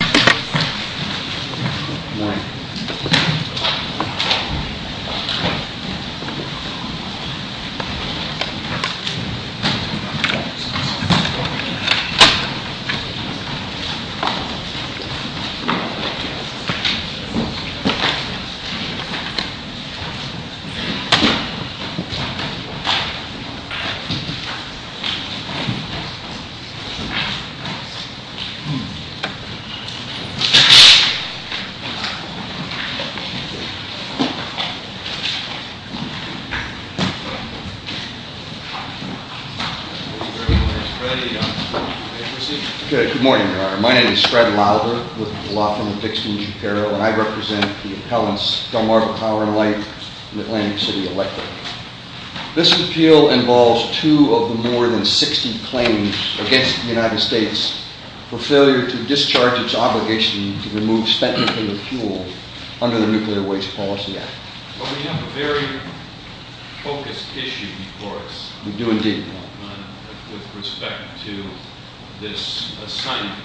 August 4, 2015 Good morning, my name is Fred Lauber with the Law Firm of Dixton G. Perot and I represent the appellants Delmarva Power & Light and Atlantic City Electric. This appeal involves two of the more than 60 claims against the United States for failure to discharge its obligation to remove spent nuclear fuel under the Nuclear Waste Policy Act. We have a very focused issue before us with respect to this assignment.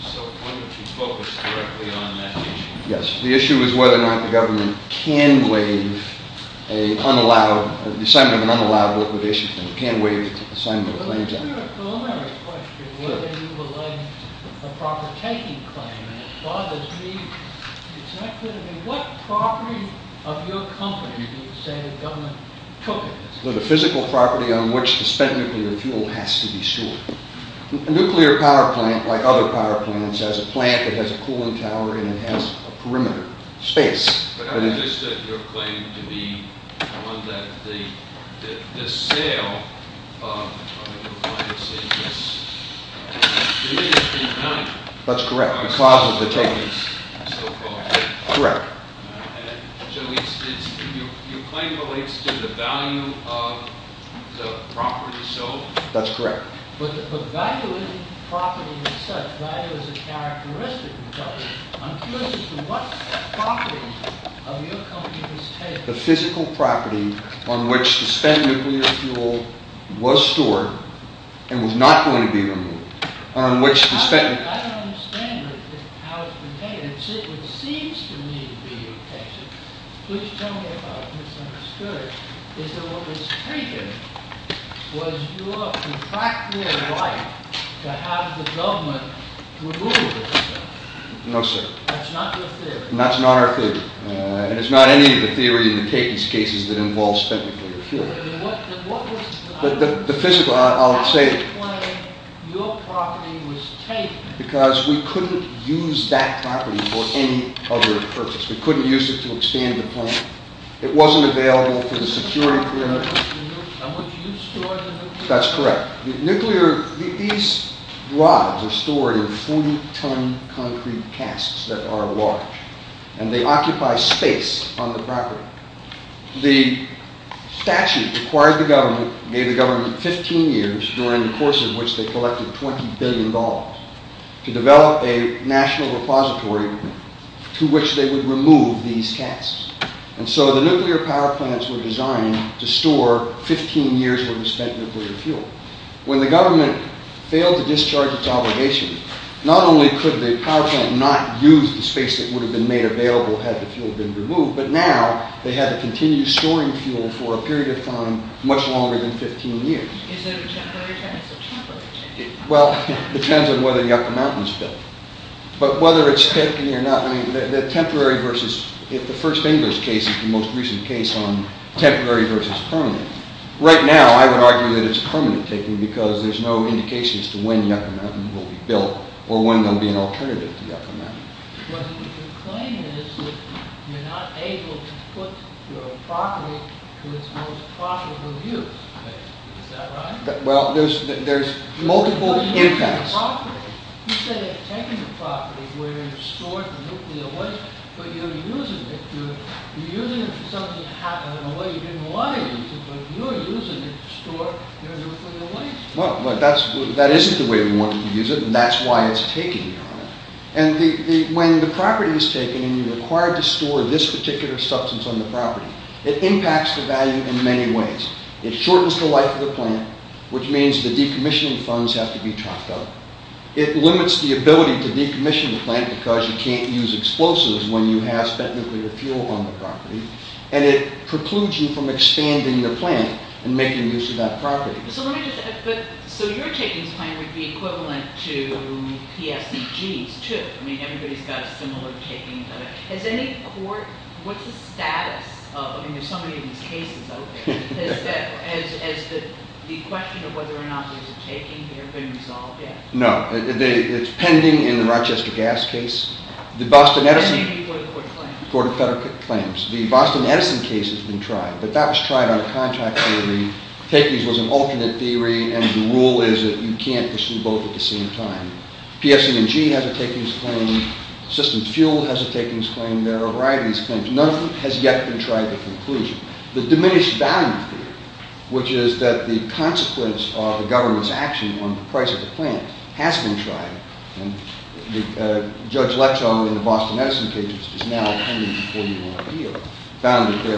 So why don't you focus directly on that issue? Yes, the issue is whether or not the government can waive the assignment of an unallowed liquidation claim, can waive the assignment of a claims act. But isn't there a preliminary question whether you would like a proper taking claim? And it bothers me, it's not clear to me, what property of your company do you say the government took? The physical property on which the spent nuclear fuel has to be stored. A nuclear power plant, like other power plants, has a plant that has a cooling tower and it has a perimeter, space. But I understood your claim to be one that the sale of, I don't know if I can say this, the industry money. That's correct, the cost of the techniques. So-called. Correct. So your claim relates to the value of the property sold? That's correct. But value isn't property in itself. Value is a characteristic. I'm curious as to what property of your company was taken. The physical property on which the spent nuclear fuel was stored and was not going to be removed. I don't understand how it's been taken. It seems to me to be your case. Please tell me if I've misunderstood it. Is that what was taken was your contractual right to have the government remove it? No, sir. That's not your theory? That's not our theory. And it's not any of the theory in the cases that involve spent nuclear fuel. What was- The physical, I'll say- Your claim, your property was taken. Because we couldn't use that property for any other purpose. We couldn't use it to expand the plant. It wasn't available for the security clearance. And what you stored in the- That's correct. Nuclear, these rods are stored in 40 ton concrete casks that are large. And they occupy space on the property. The statute required the government, gave the government 15 years, during the course of which they collected $20 billion, to develop a national repository to which they would remove these casks. And so the nuclear power plants were designed to store 15 years worth of spent nuclear fuel. When the government failed to discharge its obligations, not only could the power plant not use the space that would have been made available had the fuel been removed, but now they had to continue storing fuel for a period of time much longer than 15 years. Is it a temporary change or a temporary change? Well, it depends on whether Yucca Mountain is built. But whether it's taken or not, I mean, the temporary versus- If the first English case is the most recent case on temporary versus permanent, right now I would argue that it's permanent taking because there's no indication as to when Yucca Mountain will be built, or when there'll be an alternative to Yucca Mountain. But your claim is that you're not able to put your property to its most profitable use. Is that right? Well, there's multiple impacts. You say you're taking the property where you've stored the nuclear waste, but you're using it. You're using it for something that happened in a way you didn't want to use it, but you're using it to store your nuclear waste. Well, that isn't the way we want to use it, and that's why it's taking on it. And when the property is taken and you're required to store this particular substance on the property, it impacts the value in many ways. It shortens the life of the plant, which means the decommissioning funds have to be topped up. It limits the ability to decommission the plant because you can't use explosives when you have spent nuclear fuel on the property. And it precludes you from expanding the plant and making use of that property. So your takings plan would be equivalent to PSCG's, too. I mean, everybody's got a similar taking. Has any court – what's the status of – I mean, there's so many of these cases out there. Has the question of whether or not there's a taking here been resolved yet? No. It's pending in the Rochester gas case. And maybe the Court of Federal Claims. Court of Federal Claims. The Boston Edison case has been tried, but that was tried on a contract where the takings was an alternate theory and the rule is that you can't pursue both at the same time. PSCG has a takings claim. Systems Fuel has a takings claim. There are a variety of these claims. None has yet been tried to conclusion. The diminished value theory, which is that the consequence of the government's action on the price of the plant has been tried. Judge Leto in the Boston Edison case is now pending a four-year-long appeal, found that the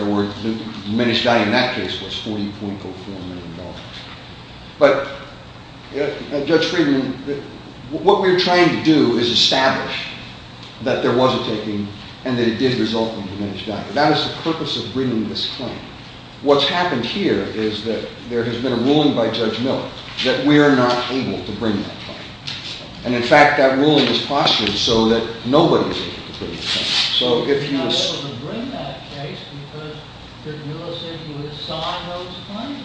diminished value in that case was $40.04 million. But Judge Friedman, what we're trying to do is establish that there was a taking and that it did result in diminished value. That is the purpose of bringing this claim. What's happened here is that there has been a ruling by Judge Miller that we are not able to bring that claim. And, in fact, that ruling was postured so that nobody is able to bring the claim. So if you... You're not able to bring that case because Judge Miller said you would assign those claims.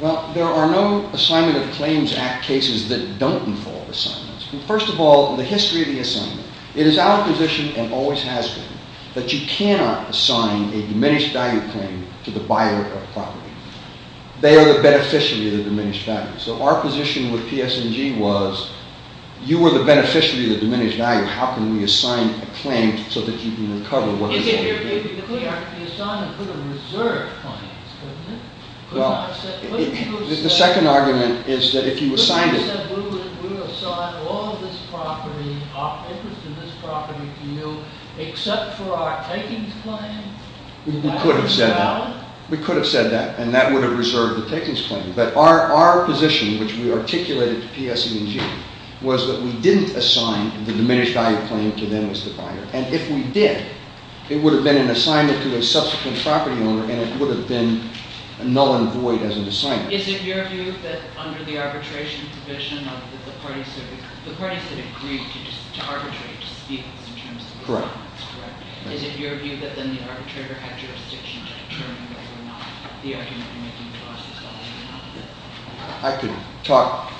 Well, there are no Assignment of Claims Act cases that don't involve assignments. First of all, the history of the assignment, it is our position and always has been that you cannot assign a diminished value claim to the buyer of property. They are the beneficiary of the diminished value. So our position with PS&G was you were the beneficiary of the diminished value. How can we assign a claim so that you can recover what is already there? You could assign and could have reserved claims, couldn't you? Well, the second argument is that if you assigned it... You could have said we will assign all this property to you except for our takings claim. We could have said that. We could have said that, and that would have reserved the takings claim. But our position, which we articulated to PS&G, was that we didn't assign the diminished value claim to them as the buyer. And if we did, it would have been an assignment to a subsequent property owner and it would have been null and void as an assignment. Is it your view that under the arbitration provision, the parties that agreed to arbitrate to speak in terms of... Correct. Is it your view that then the arbitrator had jurisdiction to determine whether or not the argument they were making to us was valid or not? I could talk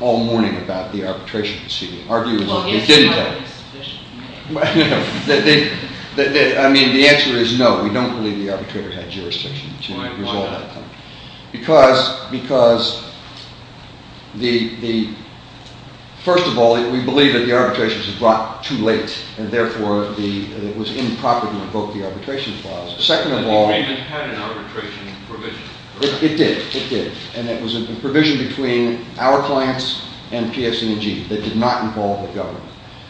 all morning about the arbitration proceeding, arguing that they didn't have it. Well, yes, but not in a sufficient manner. I mean, the answer is no. We don't believe the arbitrator had jurisdiction to resolve that claim. Why not? Because, first of all, we believe that the arbitration was brought too late and therefore it was improper to invoke the arbitration clause. Second of all... But the agreement had an arbitration provision. It did, it did. And it was a provision between our clients and PS&G that did not involve the government.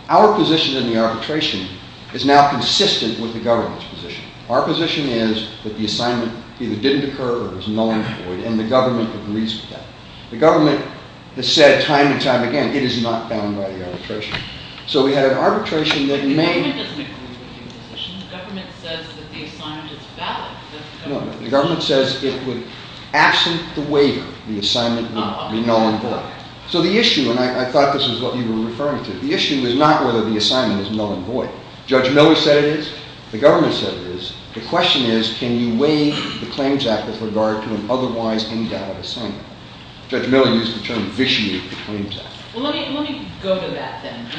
Our position in the arbitration is now consistent with the government's position. Our position is that the assignment either didn't occur or was null and void and the government agrees with that. The government has said time and time again, it is not bound by the arbitration. So we had an arbitration that may... The government says that the assignment is valid. The government says it would, absent the waiver, the assignment would be null and void. So the issue, and I thought this is what you were referring to, the issue is not whether the assignment is null and void. Judge Miller said it is. The government said it is. The question is, can you waive the Claims Act with regard to an otherwise invalid assignment? Judge Miller used the term vitiate the Claims Act. Well, let me go to that then. Do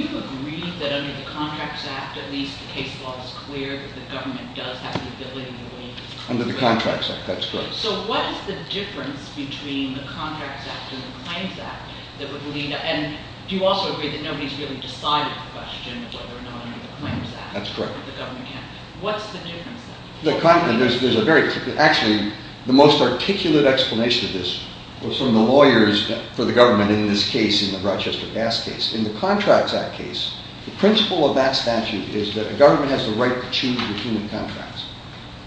you agree that under the Contracts Act, at least the case law is clear, that the government does have the ability to waive the Claims Act? Under the Contracts Act, that's correct. So what is the difference between the Contracts Act and the Claims Act that would lead... And do you also agree that nobody has really decided the question of whether or not under the Claims Act the government can... That's correct. What's the difference then? There's a very... Actually, the most articulate explanation of this was from the lawyers for the government in this case, in the Rochester Gas case. In the Contracts Act case, the principle of that statute is that the government has the right to choose between the contracts.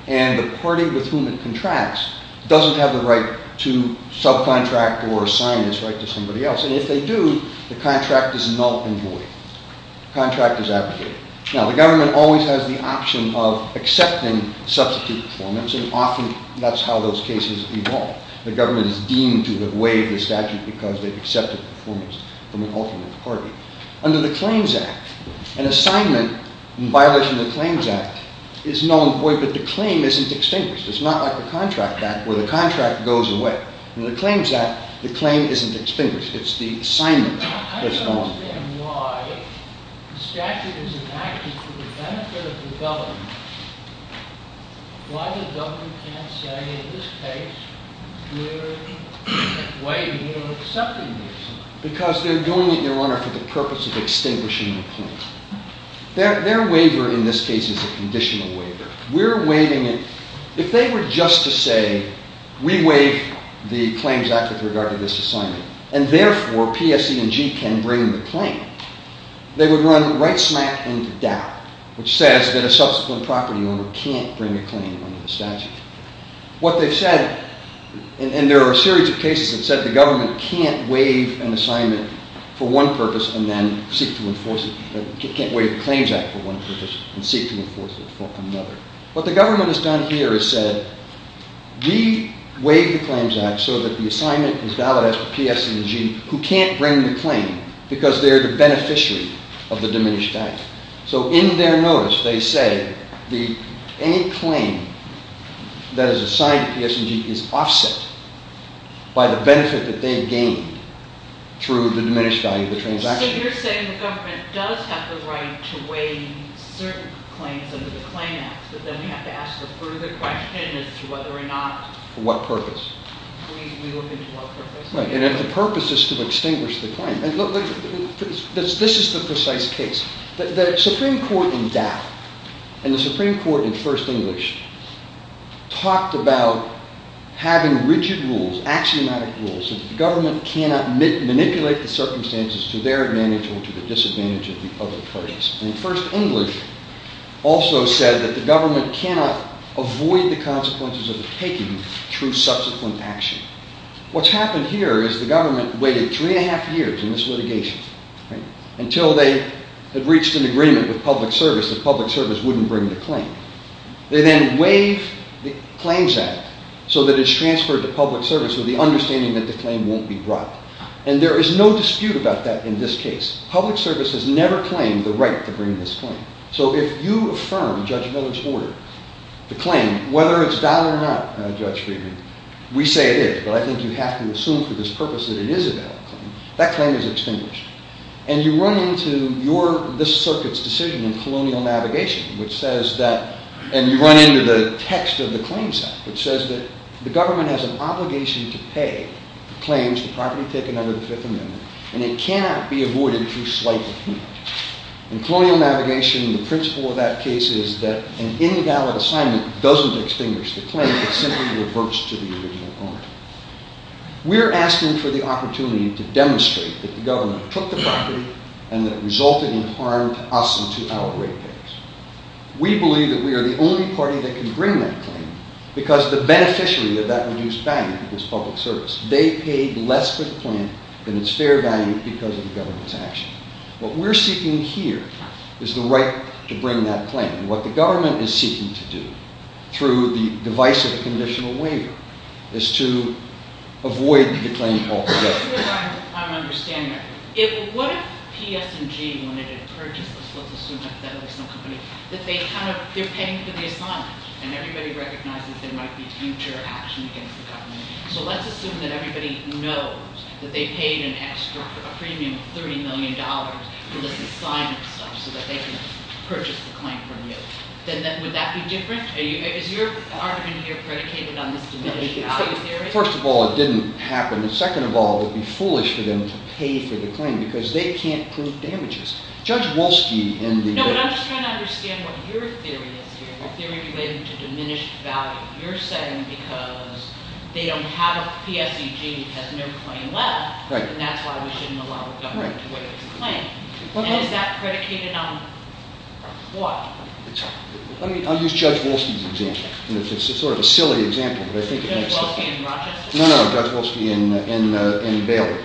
And the party with whom it contracts doesn't have the right to subcontract or assign this right to somebody else. And if they do, the contract is null and void. The contract is abrogated. Now, the government always has the option of accepting substitute performance, and often that's how those cases evolve. The government is deemed to have waived the statute because they've accepted performance from an alternate party. Under the Claims Act, an assignment in violation of the Claims Act is null and void, but the claim isn't extinguished. It's not like the Contract Act where the contract goes away. In the Claims Act, the claim isn't extinguished. It's the assignment that's null and void. I don't understand why the statute is enacted for the benefit of the government. Why the government can't say, in this case, we're waiving or accepting this? Because they're going to their owner for the purpose of extinguishing the claim. Their waiver in this case is a conditional waiver. We're waiving it. If they were just to say, we waive the Claims Act with regard to this assignment, and therefore PSE&G can bring the claim, they would run right smack into doubt, which says that a subsequent property owner can't bring a claim under the statute. What they've said, and there are a series of cases that said the government can't waive an assignment for one purpose and then seek to enforce it, can't waive the Claims Act for one purpose and seek to enforce it for another. What the government has done here is said, we waive the Claims Act so that the assignment is valid as per PSE&G, who can't bring the claim because they're the beneficiary of the diminished value. So in their notice they say any claim that is assigned to PSE&G is offset by the benefit that they've gained through the diminished value of the transaction. So you're saying the government does have the right to waive certain claims under the Claims Act, but then we have to ask a further question as to whether or not... For what purpose? We look into what purpose. Right, and if the purpose is to extinguish the claim... This is the precise case. The Supreme Court in doubt, and the Supreme Court in First English, talked about having rigid rules, axiomatic rules, that the government cannot manipulate the circumstances to their advantage or to the disadvantage of the other parties. And First English also said that the government cannot avoid the consequences of the taking through subsequent action. What's happened here is the government waited three and a half years in this litigation until they had reached an agreement with public service that public service wouldn't bring the claim. They then waive the Claims Act so that it's transferred to public service with the understanding that the claim won't be brought. And there is no dispute about that in this case. Public service has never claimed the right to bring this claim. So if you affirm Judge Miller's order, the claim, whether it's valid or not, Judge Friedman, we say it is, but I think you have to assume for this purpose that it is a valid claim, that claim is extinguished. And you run into this circuit's decision in Colonial Navigation, which says that, and you run into the text of the Claims Act, which says that the government has an obligation to pay claims to property taken under the Fifth Amendment, and it cannot be avoided through slight appeal. In Colonial Navigation, the principle of that case is that an invalid assignment doesn't extinguish the claim, it simply reverts to the original owner. We're asking for the opportunity to demonstrate that the government took the property and that it resulted in harm to us and to our ratepayers. We believe that we are the only party that can bring that claim because the beneficiary of that reduced value is public service. They paid less for the claim than its fair value because of the government's action. What we're seeking here is the right to bring that claim. What the government is seeking to do through the divisive conditional waiver is to avoid the claim altogether. I'm not sure I'm understanding everything. What if P.S. and G. wanted to purchase this, let's assume that there's no company, that they're paying for the assignment and everybody recognizes there might be future action against the government, so let's assume that everybody knows that they paid an extra premium of $30 million for this assignment stuff so that they can purchase the claim from you. Would that be different? Is your argument here predicated on this diminished value theory? First of all, it didn't happen. Second of all, it would be foolish for them to pay for the claim because they can't prove damages. Judge Wolski and the... No, but I'm just trying to understand what your theory is here, your theory related to diminished value. You're saying because they don't have a P.S.E.G. it has no claim left, and that's why we shouldn't allow the government to waive the claim. And is that predicated on what? I'll use Judge Wolski's example. It's sort of a silly example, but I think it makes sense. Judge Wolski in Rochester? No, no, Judge Wolski in Bailey.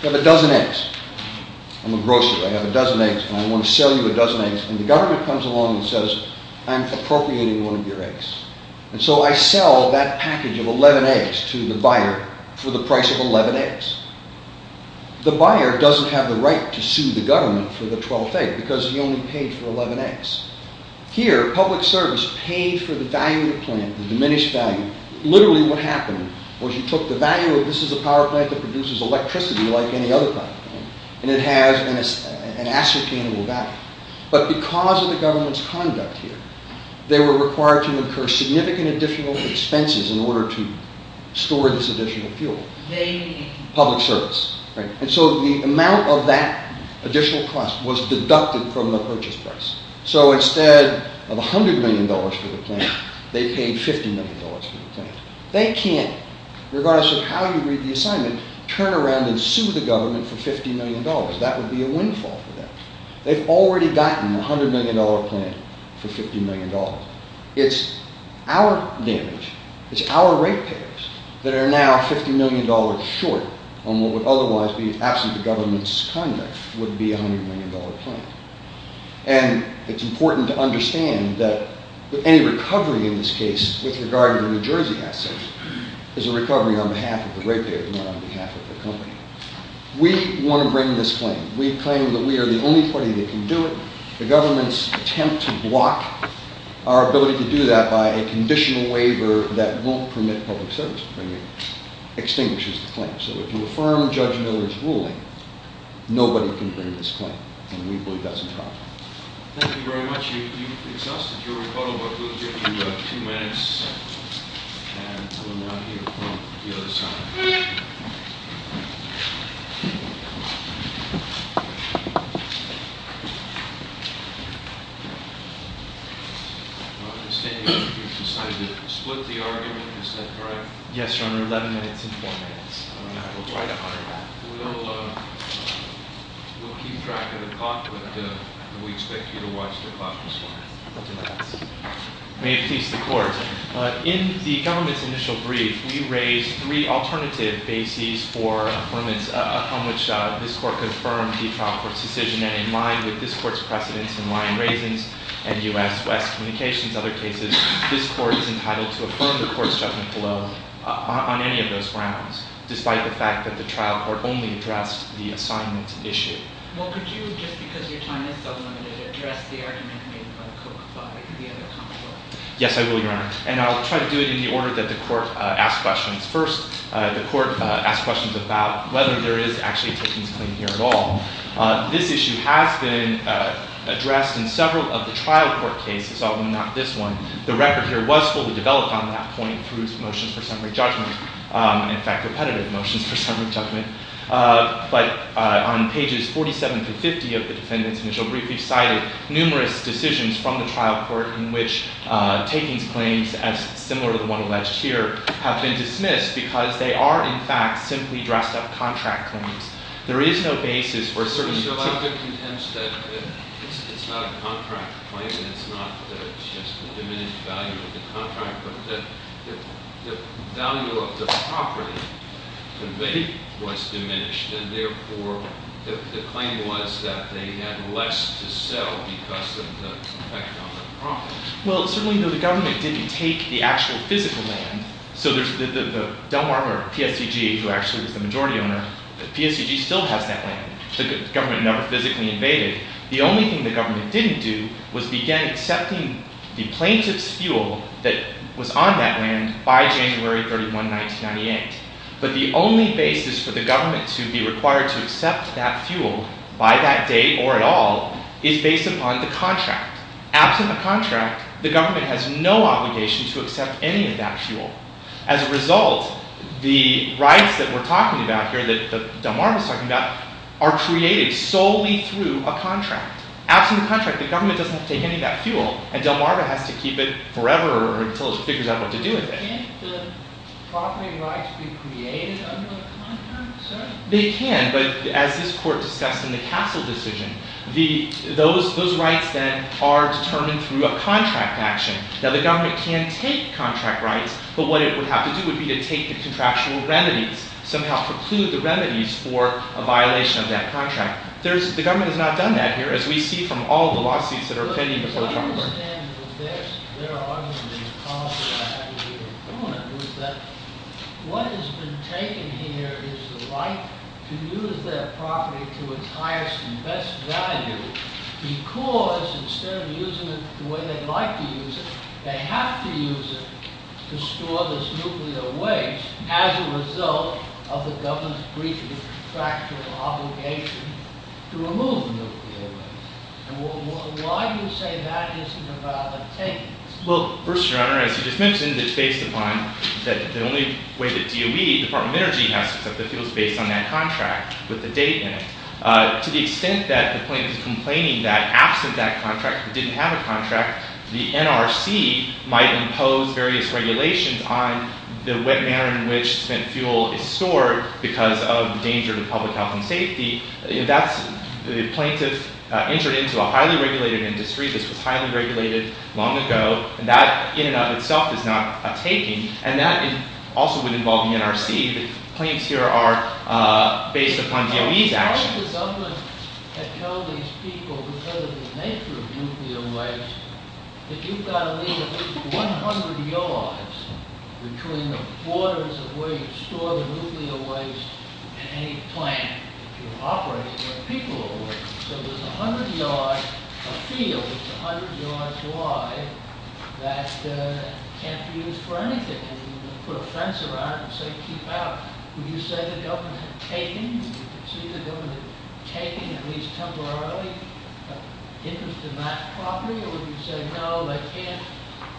You have a dozen eggs. I'm a grocer, I have a dozen eggs, and I want to sell you a dozen eggs, and the government comes along and says, I'm appropriating one of your eggs. And so I sell that package of 11 eggs to the buyer for the price of 11 eggs. The buyer doesn't have the right to sue the government for the 12th egg because he only paid for 11 eggs. Here, public service paid for the value of the plant, the diminished value. Literally what happened was you took the value of, this is a power plant that produces electricity like any other power plant, and it has an ascertainable value. But because of the government's conduct here, they were required to incur significant additional expenses in order to store this additional fuel. Public service. And so the amount of that additional cost was deducted from the purchase price. So instead of $100 million for the plant, they paid $50 million for the plant. They can't, regardless of how you read the assignment, turn around and sue the government for $50 million. That would be a windfall for them. They've already gotten a $100 million plant for $50 million. It's our damage, it's our ratepayers that are now $50 million short on what would otherwise be, absent the government's conduct, would be a $100 million plant. And it's important to understand that any recovery in this case with regard to New Jersey assets is a recovery on behalf of the ratepayers and not on behalf of the company. We want to bring this claim. We claim that we are the only party that can do it. The government's attempt to block our ability to do that by a conditional waiver that won't permit public service to bring it extinguishes the claim. So if you affirm Judge Miller's ruling, nobody can bring this claim. And we believe that's a problem. Thank you very much. You've exhausted your rebuttal book. We'll give you two minutes. And come around here from the other side. I understand you've decided to split the argument. Is that correct? Yes, Your Honor. Eleven minutes and four minutes. All right. We'll try to honor that. We'll keep track of the clock, but we expect you to watch the clock this morning. Thank you, Your Honor. May it please the Court. In the government's initial brief, we raised three alternative bases for affirmance upon which this Court confirmed the trial court's decision. And in line with this Court's precedents in Lyon-Razins and U.S.-West communications and other cases, this Court is entitled to affirm the Court's judgment below on any of those grounds, despite the fact that the trial court only addressed the assignment issue. Well, could you, just because your time is so limited, address the argument made by the court before? Yes, I will, Your Honor. And I'll try to do it in the order that the court asks questions first. The court asks questions about whether there is actually a takings claim here at all. This issue has been addressed in several of the trial court cases, although not this one. The record here was fully developed on that point through motions for summary judgment, in fact, repetitive motions for summary judgment. But on pages 47 through 50 of the defendant's initial brief, we cited numerous decisions from the trial court in which takings claims, as similar to the one alleged here, have been dismissed because they are, in fact, simply dressed-up contract claims. There is no basis for certain particular... So I'm to contend that it's not a contract claim and it's not just the diminished value of the contract, but that the value of the property to make was diminished and, therefore, the claim was that they had less to sell because of the effect on the property. Well, certainly the government didn't take the actual physical land. So the Delmarva PSUG, who actually is the majority owner, the PSUG still has that land. The government never physically invaded. The only thing the government didn't do was begin accepting the plaintiff's fuel that was on that land by January 31, 1998. But the only basis for the government to be required to accept that fuel by that date or at all is based upon the contract. Absent the contract, the government has no obligation to accept any of that fuel. As a result, the rights that we're talking about here, that Delmarva's talking about, are created solely through a contract. Absent the contract, the government doesn't have to take any of that fuel and Delmarva has to keep it forever until it figures out what to do with it. Can't the property rights be created under the contract, sir? They can, but as this court discussed in the Castle decision, those rights, then, are determined through a contract action. Now, the government can take contract rights, but what it would have to do would be to take the contractual remedies, somehow preclude the remedies for a violation of that contract. The government has not done that here, as we see from all the lawsuits that are pending before the trial court. To understand their argument and the policy that had to be implemented was that what has been taken here is the right to use that property to its highest and best value, because instead of using it the way they'd like to use it, they have to use it to store this nuclear waste as a result of the government's breach of the contractual obligation to remove nuclear waste. And why do you say that isn't about obtaining it? Well, first, your honor, as you just mentioned, it's based upon that the only way that DOE, Department of Energy, has to accept the fuel is based on that contract with the date in it. To the extent that the plaintiff is complaining that absent that contract, it didn't have a contract, the NRC might impose various regulations on the manner in which spent fuel is stored because of danger to public health and safety. That's the plaintiff entered into a highly regulated industry. This was highly regulated long ago. And that in and of itself is not a taking. And that also would involve the NRC. The complaints here are based upon DOE's action. The government had told these people because of the nature of nuclear waste that you've got to leave at least 100 yards between the borders of where you store the nuclear waste and any plant that you're operating where people are working. So there's a field that's 100 yards wide that can't be used for anything. If you put a fence around it and say keep out, would you say the government had taken, would you say the government had taken at least temporarily interest in that property? Or would you say no, they can't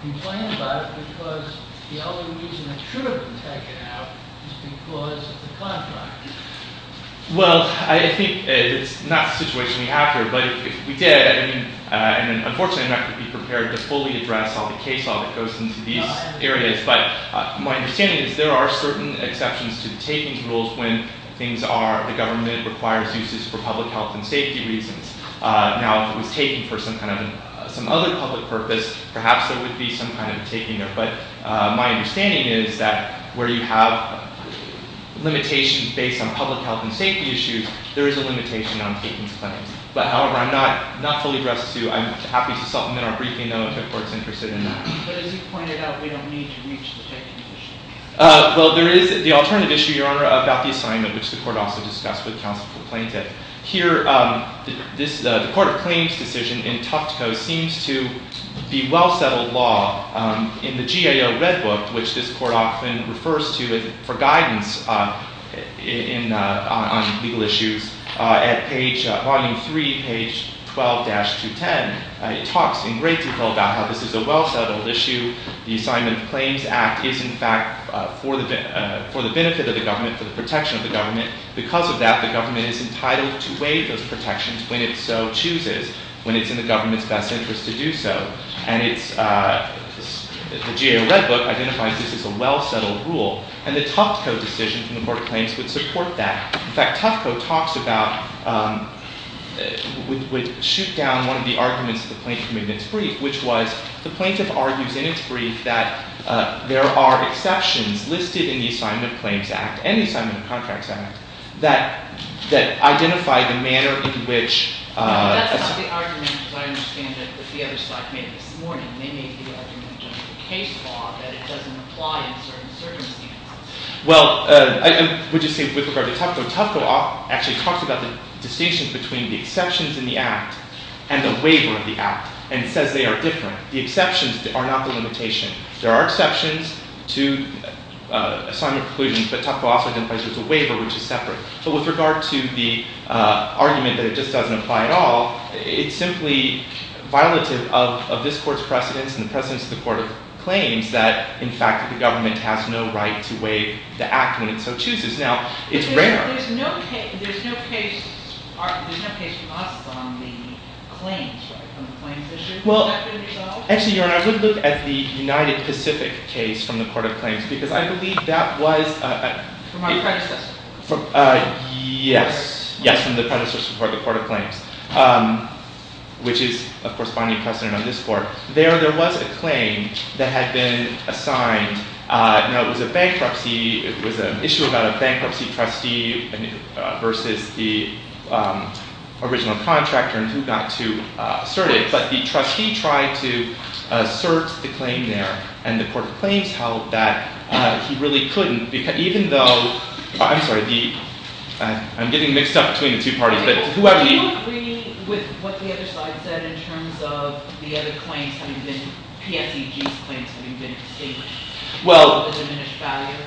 complain about it because the only reason it should have been taken out is because of the contract? Well, I think it's not the situation we have here. But if we did, and unfortunately I'm not going to be prepared to fully address all the case law that goes into these areas. But my understanding is there are certain exceptions to the takings rules when things are, the government requires uses for public health and safety reasons. Now if it was taken for some other public purpose, perhaps there would be some kind of taking there. But my understanding is that where you have limitations based on public health and safety issues, there is a limitation on takings claims. But however, I'm not fully addressed to, I'm happy to supplement our briefing though if the court's interested in that. But as you pointed out, we don't need to reach the taking issue. Well, there is the alternative issue, Your Honor, about the assignment, which the court also discussed with counsel for plaintiff. Here, the court claims decision in Tuftco seems to be well settled law. In the GAO Red Book, which this court often refers to for guidance on legal issues, at page, volume 3, page 12-210, it talks in great detail about how this is a well settled issue. The Assignment of Claims Act is in fact for the benefit of the government, for the protection of the government. Because of that, the government is entitled to waive those protections when it so chooses, when it's in the government's best interest to do so. And it's, the GAO Red Book identifies this as a well settled rule. And the Tuftco decision from the court claims would support that. In fact, Tuftco talks about, would shoot down one of the arguments of the plaintiff in its brief, which was the plaintiff argues in its brief that there are exceptions listed in the Assignment of Claims Act and the Assignment of Contracts Act that identify the manner in which... That's not the argument, as I understand it, that the other side made this morning. They made the argument under the case law that it doesn't apply in certain circumstances. Well, I would just say with regard to Tuftco, so Tuftco actually talks about the distinction between the exceptions in the act and the waiver of the act, and it says they are different. The exceptions are not the limitation. There are exceptions to Assignment of Conclusions, but Tuftco also identifies it as a waiver, which is separate. But with regard to the argument that it just doesn't apply at all, it's simply violative of this court's precedence and the precedence of the court of claims that, in fact, the government has no right to waive the act when it so chooses. Now, it's rare. There's no case... There's no case lost on the claims, right, on the claims issue. Is that going to be solved? Actually, Your Honor, I would look at the United Pacific case from the court of claims because I believe that was... From our predecessor. Yes. Yes, from the predecessor of the court of claims, which is a corresponding precedent on this court. There was a claim that had been assigned. Now, it was a bankruptcy. It was an issue about a bankruptcy trustee versus the original contractor and who got to assert it. But the trustee tried to assert the claim there, and the court of claims held that he really couldn't even though... I'm sorry. I'm getting mixed up between the two parties. Do you agree with what the other side said in terms of the other claims having been PSEG's claims or the diminished value? Well,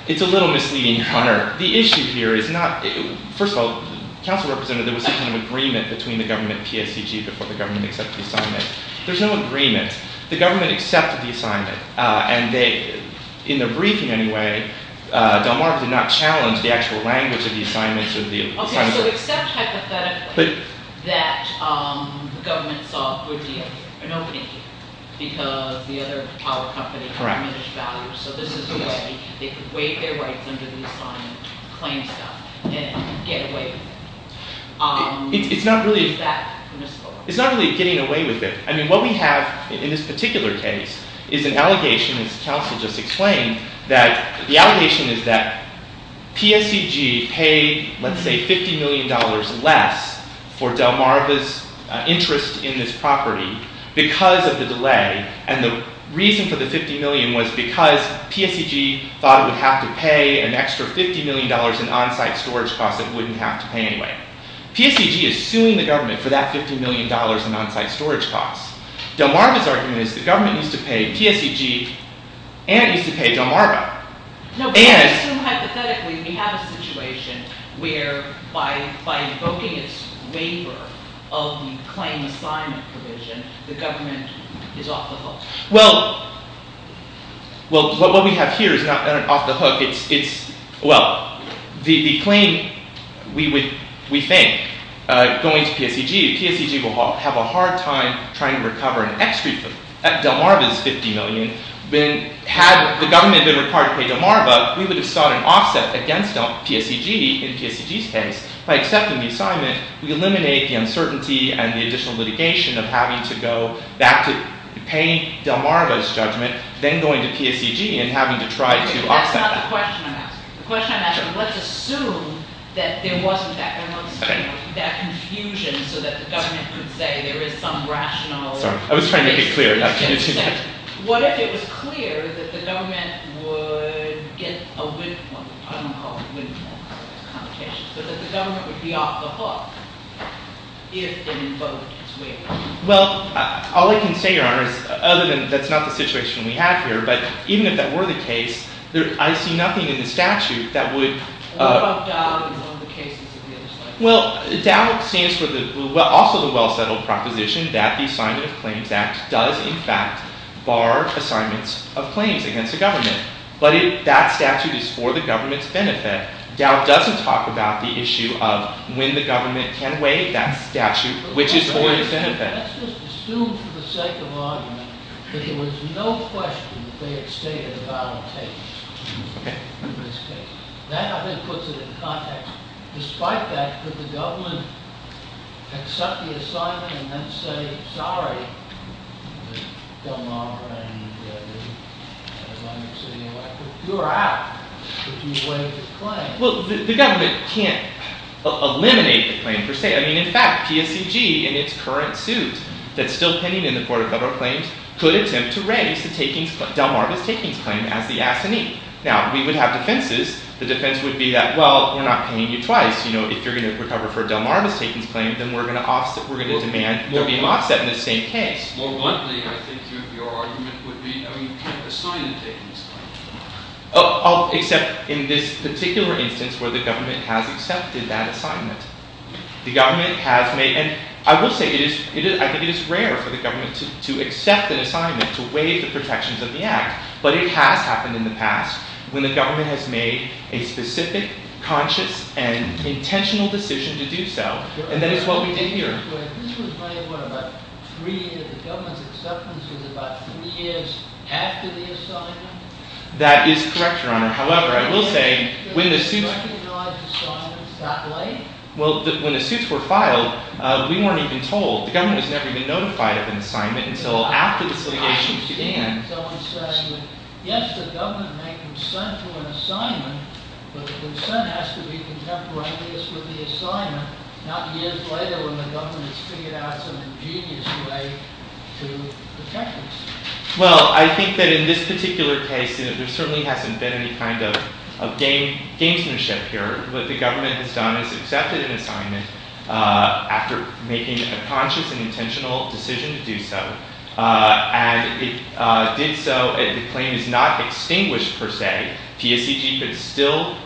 it's a little misleading, Your Honor. The issue here is not... First of all, council representative, there was some kind of agreement between the government and PSEG before the government accepted the assignment. There's no agreement. The government accepted the assignment, and in their briefing anyway, Delmarva did not challenge the actual language of the assignment. Okay, so except hypothetically that the government saw an opening here because the other power company had diminished value. So this is a way they could waive their rights under the assigned claim stuff and get away with it. Is that permissible? It's not really getting away with it. I mean, what we have in this particular case is an allegation, as counsel just explained, that the allegation is that PSEG paid, let's say, $50 million less for Delmarva's interest in this property because of the delay. And the reason for the $50 million was because PSEG thought it would have to pay an extra $50 million in on-site storage costs it wouldn't have to pay anyway. PSEG is suing the government for that $50 million in on-site storage costs. Delmarva's argument is the government used to pay PSEG and it used to pay Delmarva. No, but hypothetically, we have a situation where by invoking its waiver of the claim assignment provision, the government is off the hook. Well, what we have here is not an off-the-hook. It's, well, the claim, we think, going to PSEG, PSEG will have a hard time trying to recover an extra Delmarva's $50 million. Had the government been required to pay Delmarva, we would have sought an offset against PSEG in PSEG's case. By accepting the assignment, we eliminate the uncertainty and the additional litigation of having to go back to paying Delmarva's judgment, then going to PSEG and having to try to offset. That's not the question I'm asking. The question I'm asking, let's assume that there wasn't that confusion so that the government could say there is some rational... Sorry, I was trying to make it clear. What if it was clear that the government would get a windfall, I don't call it a windfall, it's a complication, but that the government would be off the hook if the vote is waived? Well, all I can say, Your Honor, other than that's not the situation we have here, but even if that were the case, I see nothing in the statute that would... What about DAO in some of the cases that we understand? Well, DAO stands for also the well-settled proposition that the Assignment of Claims Act does in fact bar assignments of claims against the government. But if that statute is for the government's benefit, DAO doesn't talk about the issue of when the government can waive that statute, which is for its benefit. Let's just assume for the sake of argument that there was no question that they had stated a valid case in this case. That, I think, puts it in context. Despite that, could the government accept the assignment and then say, sorry, I don't honor what I need to do, as long as it's in your record, you're out if you waive the claim. Well, the government can't eliminate the claim per se. I mean, in fact, PSCG in its current suit that's still pending in the Court of Federal Claims could attempt to raise the Delmarva's takings claim as the assignee. Now, we would have defenses. The defense would be that, well, we're not paying you twice. If you're going to recover for a Delmarva's takings claim, then we're going to demand there be an offset in the same case. More bluntly, I think your argument would be you can't assign the takings claim. Except in this particular instance where the government has accepted that assignment. The government has made, and I will say, I think it is rare for the government to accept an assignment to waive the protections of the Act. But it has happened in the past when the government has made a specific, conscious, and intentional decision to do so. And that is what we did here. That is correct, Your Honor. However, I will say, when the suit... Well, when the suits were filed, we weren't even told. The government has never been notified of an assignment until after this litigation began. Well, I think that in this particular case, there certainly hasn't been any kind of gamesmanship here. What the government has done is accepted an assignment after making a conscious and intentional decision to do so. And it did so. The claim is not extinguished, per se. PSCG could still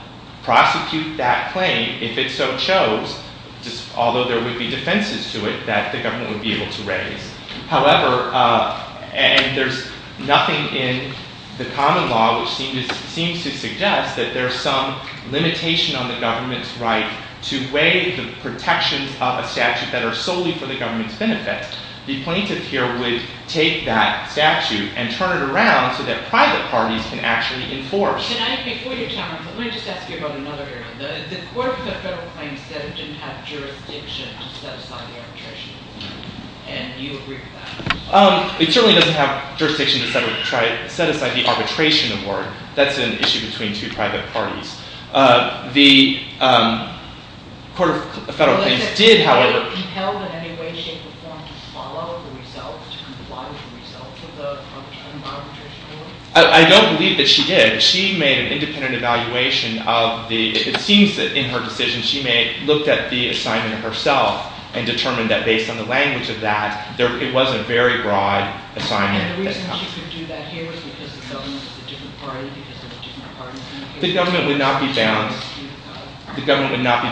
prosecute that claim if it so chose, although there would be defenses to it that the government would be able to raise. However, and there's nothing in the common law which seems to suggest that there's some limitation on the government's right to weigh the protections of a statute that are solely for the government's benefits. The plaintiff here would take that statute and turn it around so that private parties can actually enforce. It certainly doesn't have jurisdiction to set aside the arbitration award. That's an issue between two private parties. The Court of Federal Claims did, however... I don't believe that she did. She made an independent evaluation of the... It seems that in her decision she may have looked at the assignment herself and determined that based on the language of that it was a very broad assignment. And the reason she could do that here was because the government was a different party because there were different parties... The government would not be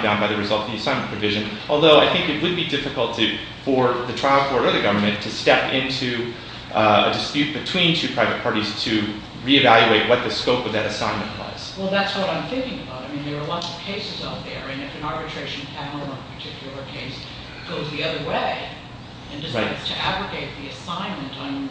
bound by the result of the assignment provision. Although I think it would be difficult for the trial court or the government to step into a dispute between two private parties to reevaluate what the scope of that assignment was. Well, that's what I'm thinking about. I mean, there are lots of cases out there and if an arbitration panel or a particular case goes the other way and decides to abrogate the assignment I'm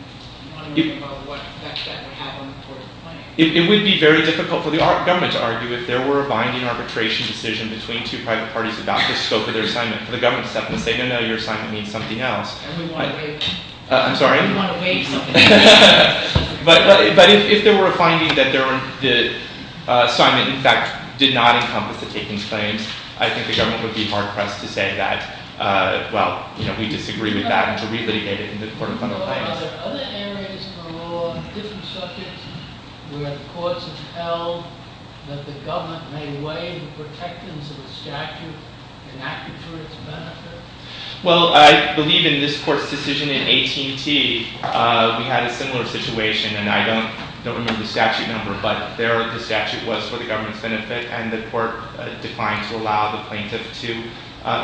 wondering about what effect that would have on the court of claim. It would be very difficult for the government to argue if there were a binding arbitration decision between two private parties about the scope of their assignment for the government to step in and say no, no, your assignment means something else. And we want to waive it. I'm sorry? And we want to waive something. But if there were a finding that the assignment in fact did not encompass the takings claims I think the government would be hard-pressed to say that well, you know, we disagree with that and we would have to re-litigate it in the court of fundamental claims. Are there other areas in the law different subjects where the courts have held that the government may waive the protectance of the statute and act for its benefit? Well, I believe in this court's decision in AT&T we had a similar situation and I don't remember the statute number but there the statute was for the government's benefit and the court declined to allow the plaintiff to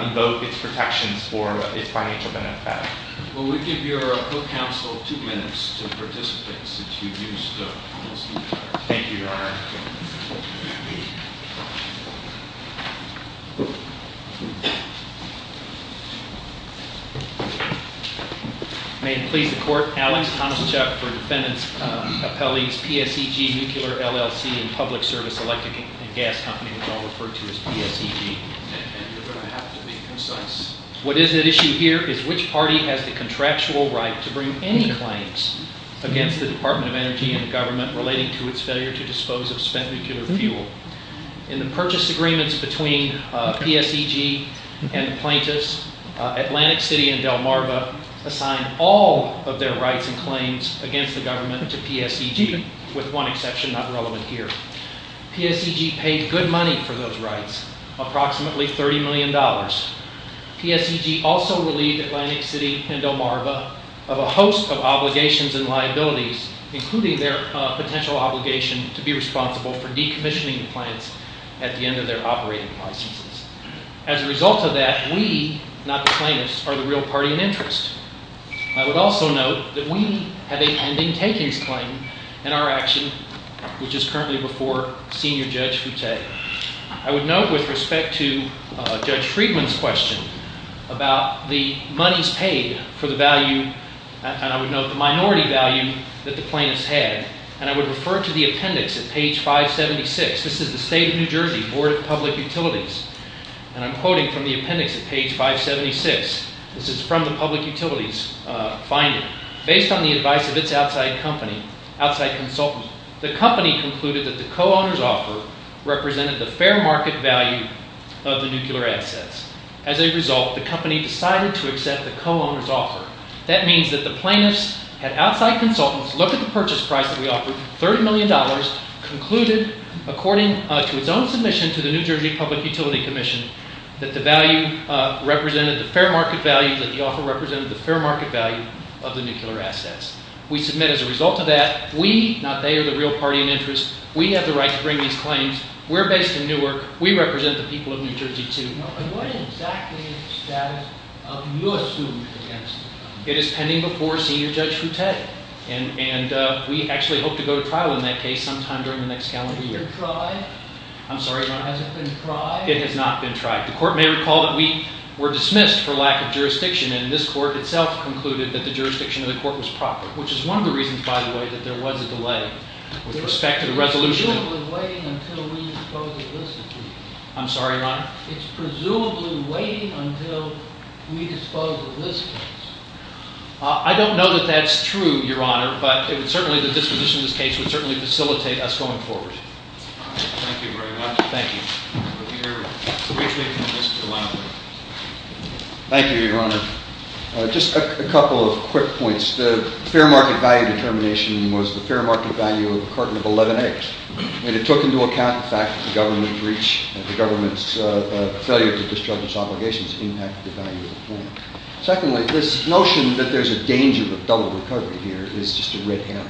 invoke its protections for its financial benefit. Well, we give your co-counsel two minutes to the participants that you used to listen to her. Thank you, Your Honor. May it please the court, Alex Tomaszczuk for defendant's appellees PSEG Nuclear LLC and Public Service Electric and Gas Company which I'll refer to as PSEG. And you're going to have to be concise. What is at issue here is which party has the contractual right to bring any claims against the Department of Energy and the government relating to its failure to dispose of spent nuclear fuel. In the purchase agreements between PSEG and the plaintiffs, Atlantic City and Delmarva assigned all of their rights and claims against the government to PSEG with one exception not relevant here. PSEG paid good money for those rights, approximately $30 million. PSEG also relieved Atlantic City and Delmarva of a host of obligations and liabilities including their potential obligation to be responsible for decommissioning the plants at the end of their operating licenses. As a result of that, we, not the plaintiffs, are the real party in interest. I would also note that we have a pending takings claim in our action which is currently before Senior Judge Foute. I would note with respect to Judge Friedman's question about the monies paid for the value and I would note the minority value that the plaintiffs had and I would refer to the appendix at page 576. This is the State of New Jersey Board of Public Utilities and I'm quoting from the appendix at page 576. This is from the Public Utilities finding. Based on the advice of its outside company, outside consultant, the company concluded that the co-owners offer represented the fair market value of the nuclear assets. As a result, the company decided to accept the co-owners offer. That means that the plaintiffs had outside consultants look at the purchase price that we offered, $30 million, concluded according to its own submission to the New Jersey Public Utility Commission that the value represented the fair market value that the offer represented the fair market value of the nuclear assets. We submit as a result of that we, not they, are the real party in interest. We have the right to bring these claims. We're based in Newark. We represent the people of New Jersey too. And what exactly is the status of your suit against them? It is pending before Senior Judge Foutet. And we actually hope to go to trial in that case sometime during the next calendar year. Has it been tried? I'm sorry, Your Honor. Has it been tried? It has not been tried. The court may recall that we were dismissed for lack of jurisdiction and this court itself concluded that the jurisdiction of the court was proper, which is one of the reasons, by the way, that there was a delay with respect to the resolution. It's presumably waiting until we dispose of this case. I'm sorry, Your Honor? It's presumably waiting until we dispose of this case. I don't know that that's true, Your Honor, but certainly the disposition of this case would certainly facilitate us going forward. Thank you very much. Thank you. Thank you, Your Honor. Just a couple of quick points. The fair market value determination was the fair market value of a carton of 11 eggs and it took into account the fact that the government breached the government's failure to discharge its obligations to impact the value of the plan. Secondly, this notion that there's a danger of double recovery here is just a red herring.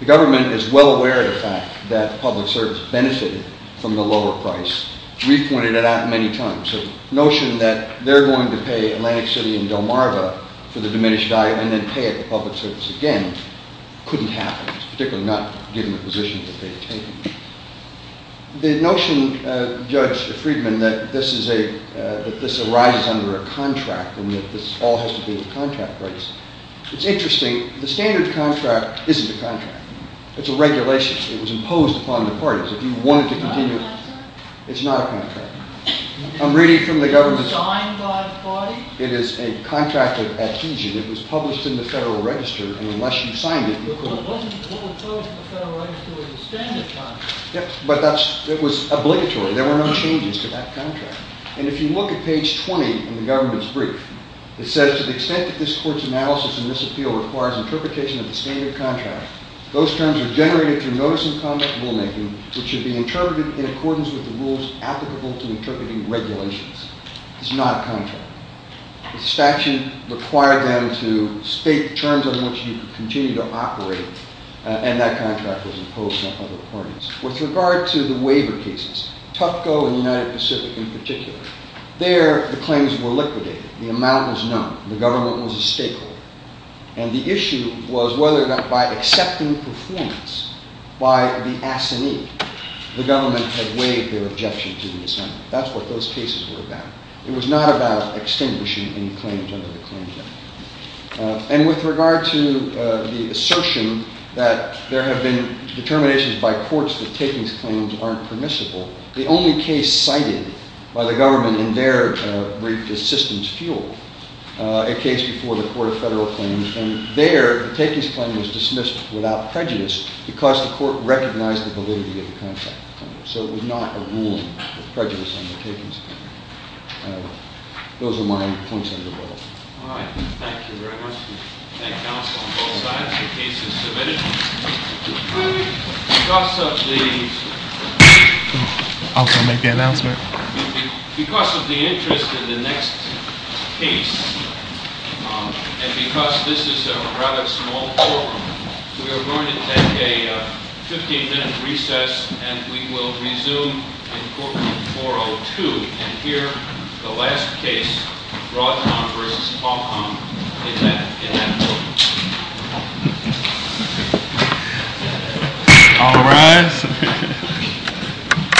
The government is well aware of the fact that public service benefited from the lower price. We've pointed it out many times. The notion that they're going to pay Atlantic City and Delmarva for the diminished value and then pay it to public service again couldn't happen, particularly not given the position that they've taken. The notion, Judge Friedman, that this arises under a contract and that this all has to be with contract rights, it's interesting. The standard contract isn't a contract. It's a regulation. It was imposed upon the parties. If you wanted to continue... It's not a contract. I'm reading from the government's... It is a contract of adhesion. It was a standard contract. It was obligatory. There were no changes to that contract. If you look at page 20 in the government's brief, it says to the extent that this court's analysis and this appeal requires interpretation of the standard contract, those terms are generated through notice and conduct rulemaking which should be interpreted in accordance with the rules applicable to interpreting regulations. It's not a contract. The statute required them to state terms on which you could continue to operate and that contract was imposed on other parties. With regard to the waiver cases, Tupco and the United Pacific in particular, there the claims were liquidated. The amount was known. The government was a stakeholder. And the issue was whether by accepting performance by the assignee, the government had waived their objection to the assignment. That's what those cases were about. It was not about the fact that takings claims aren't permissible. The only case cited by the government in their brief is systems fuel, a case before the court of federal claims. And there the takings claim was dismissed without prejudice because the court recognized the validity of the claims. So it was not a ruling. Those are my points. All right. Thank you very much. Thank you counsel on both sides. The case is submitted. Because of the interest in the next case and because this is a rather small forum, we are going to take a 15-minute recess and we will resume in court room 402 and hear the last case, Broadcom versus Qualcomm in that courtroom. All rise.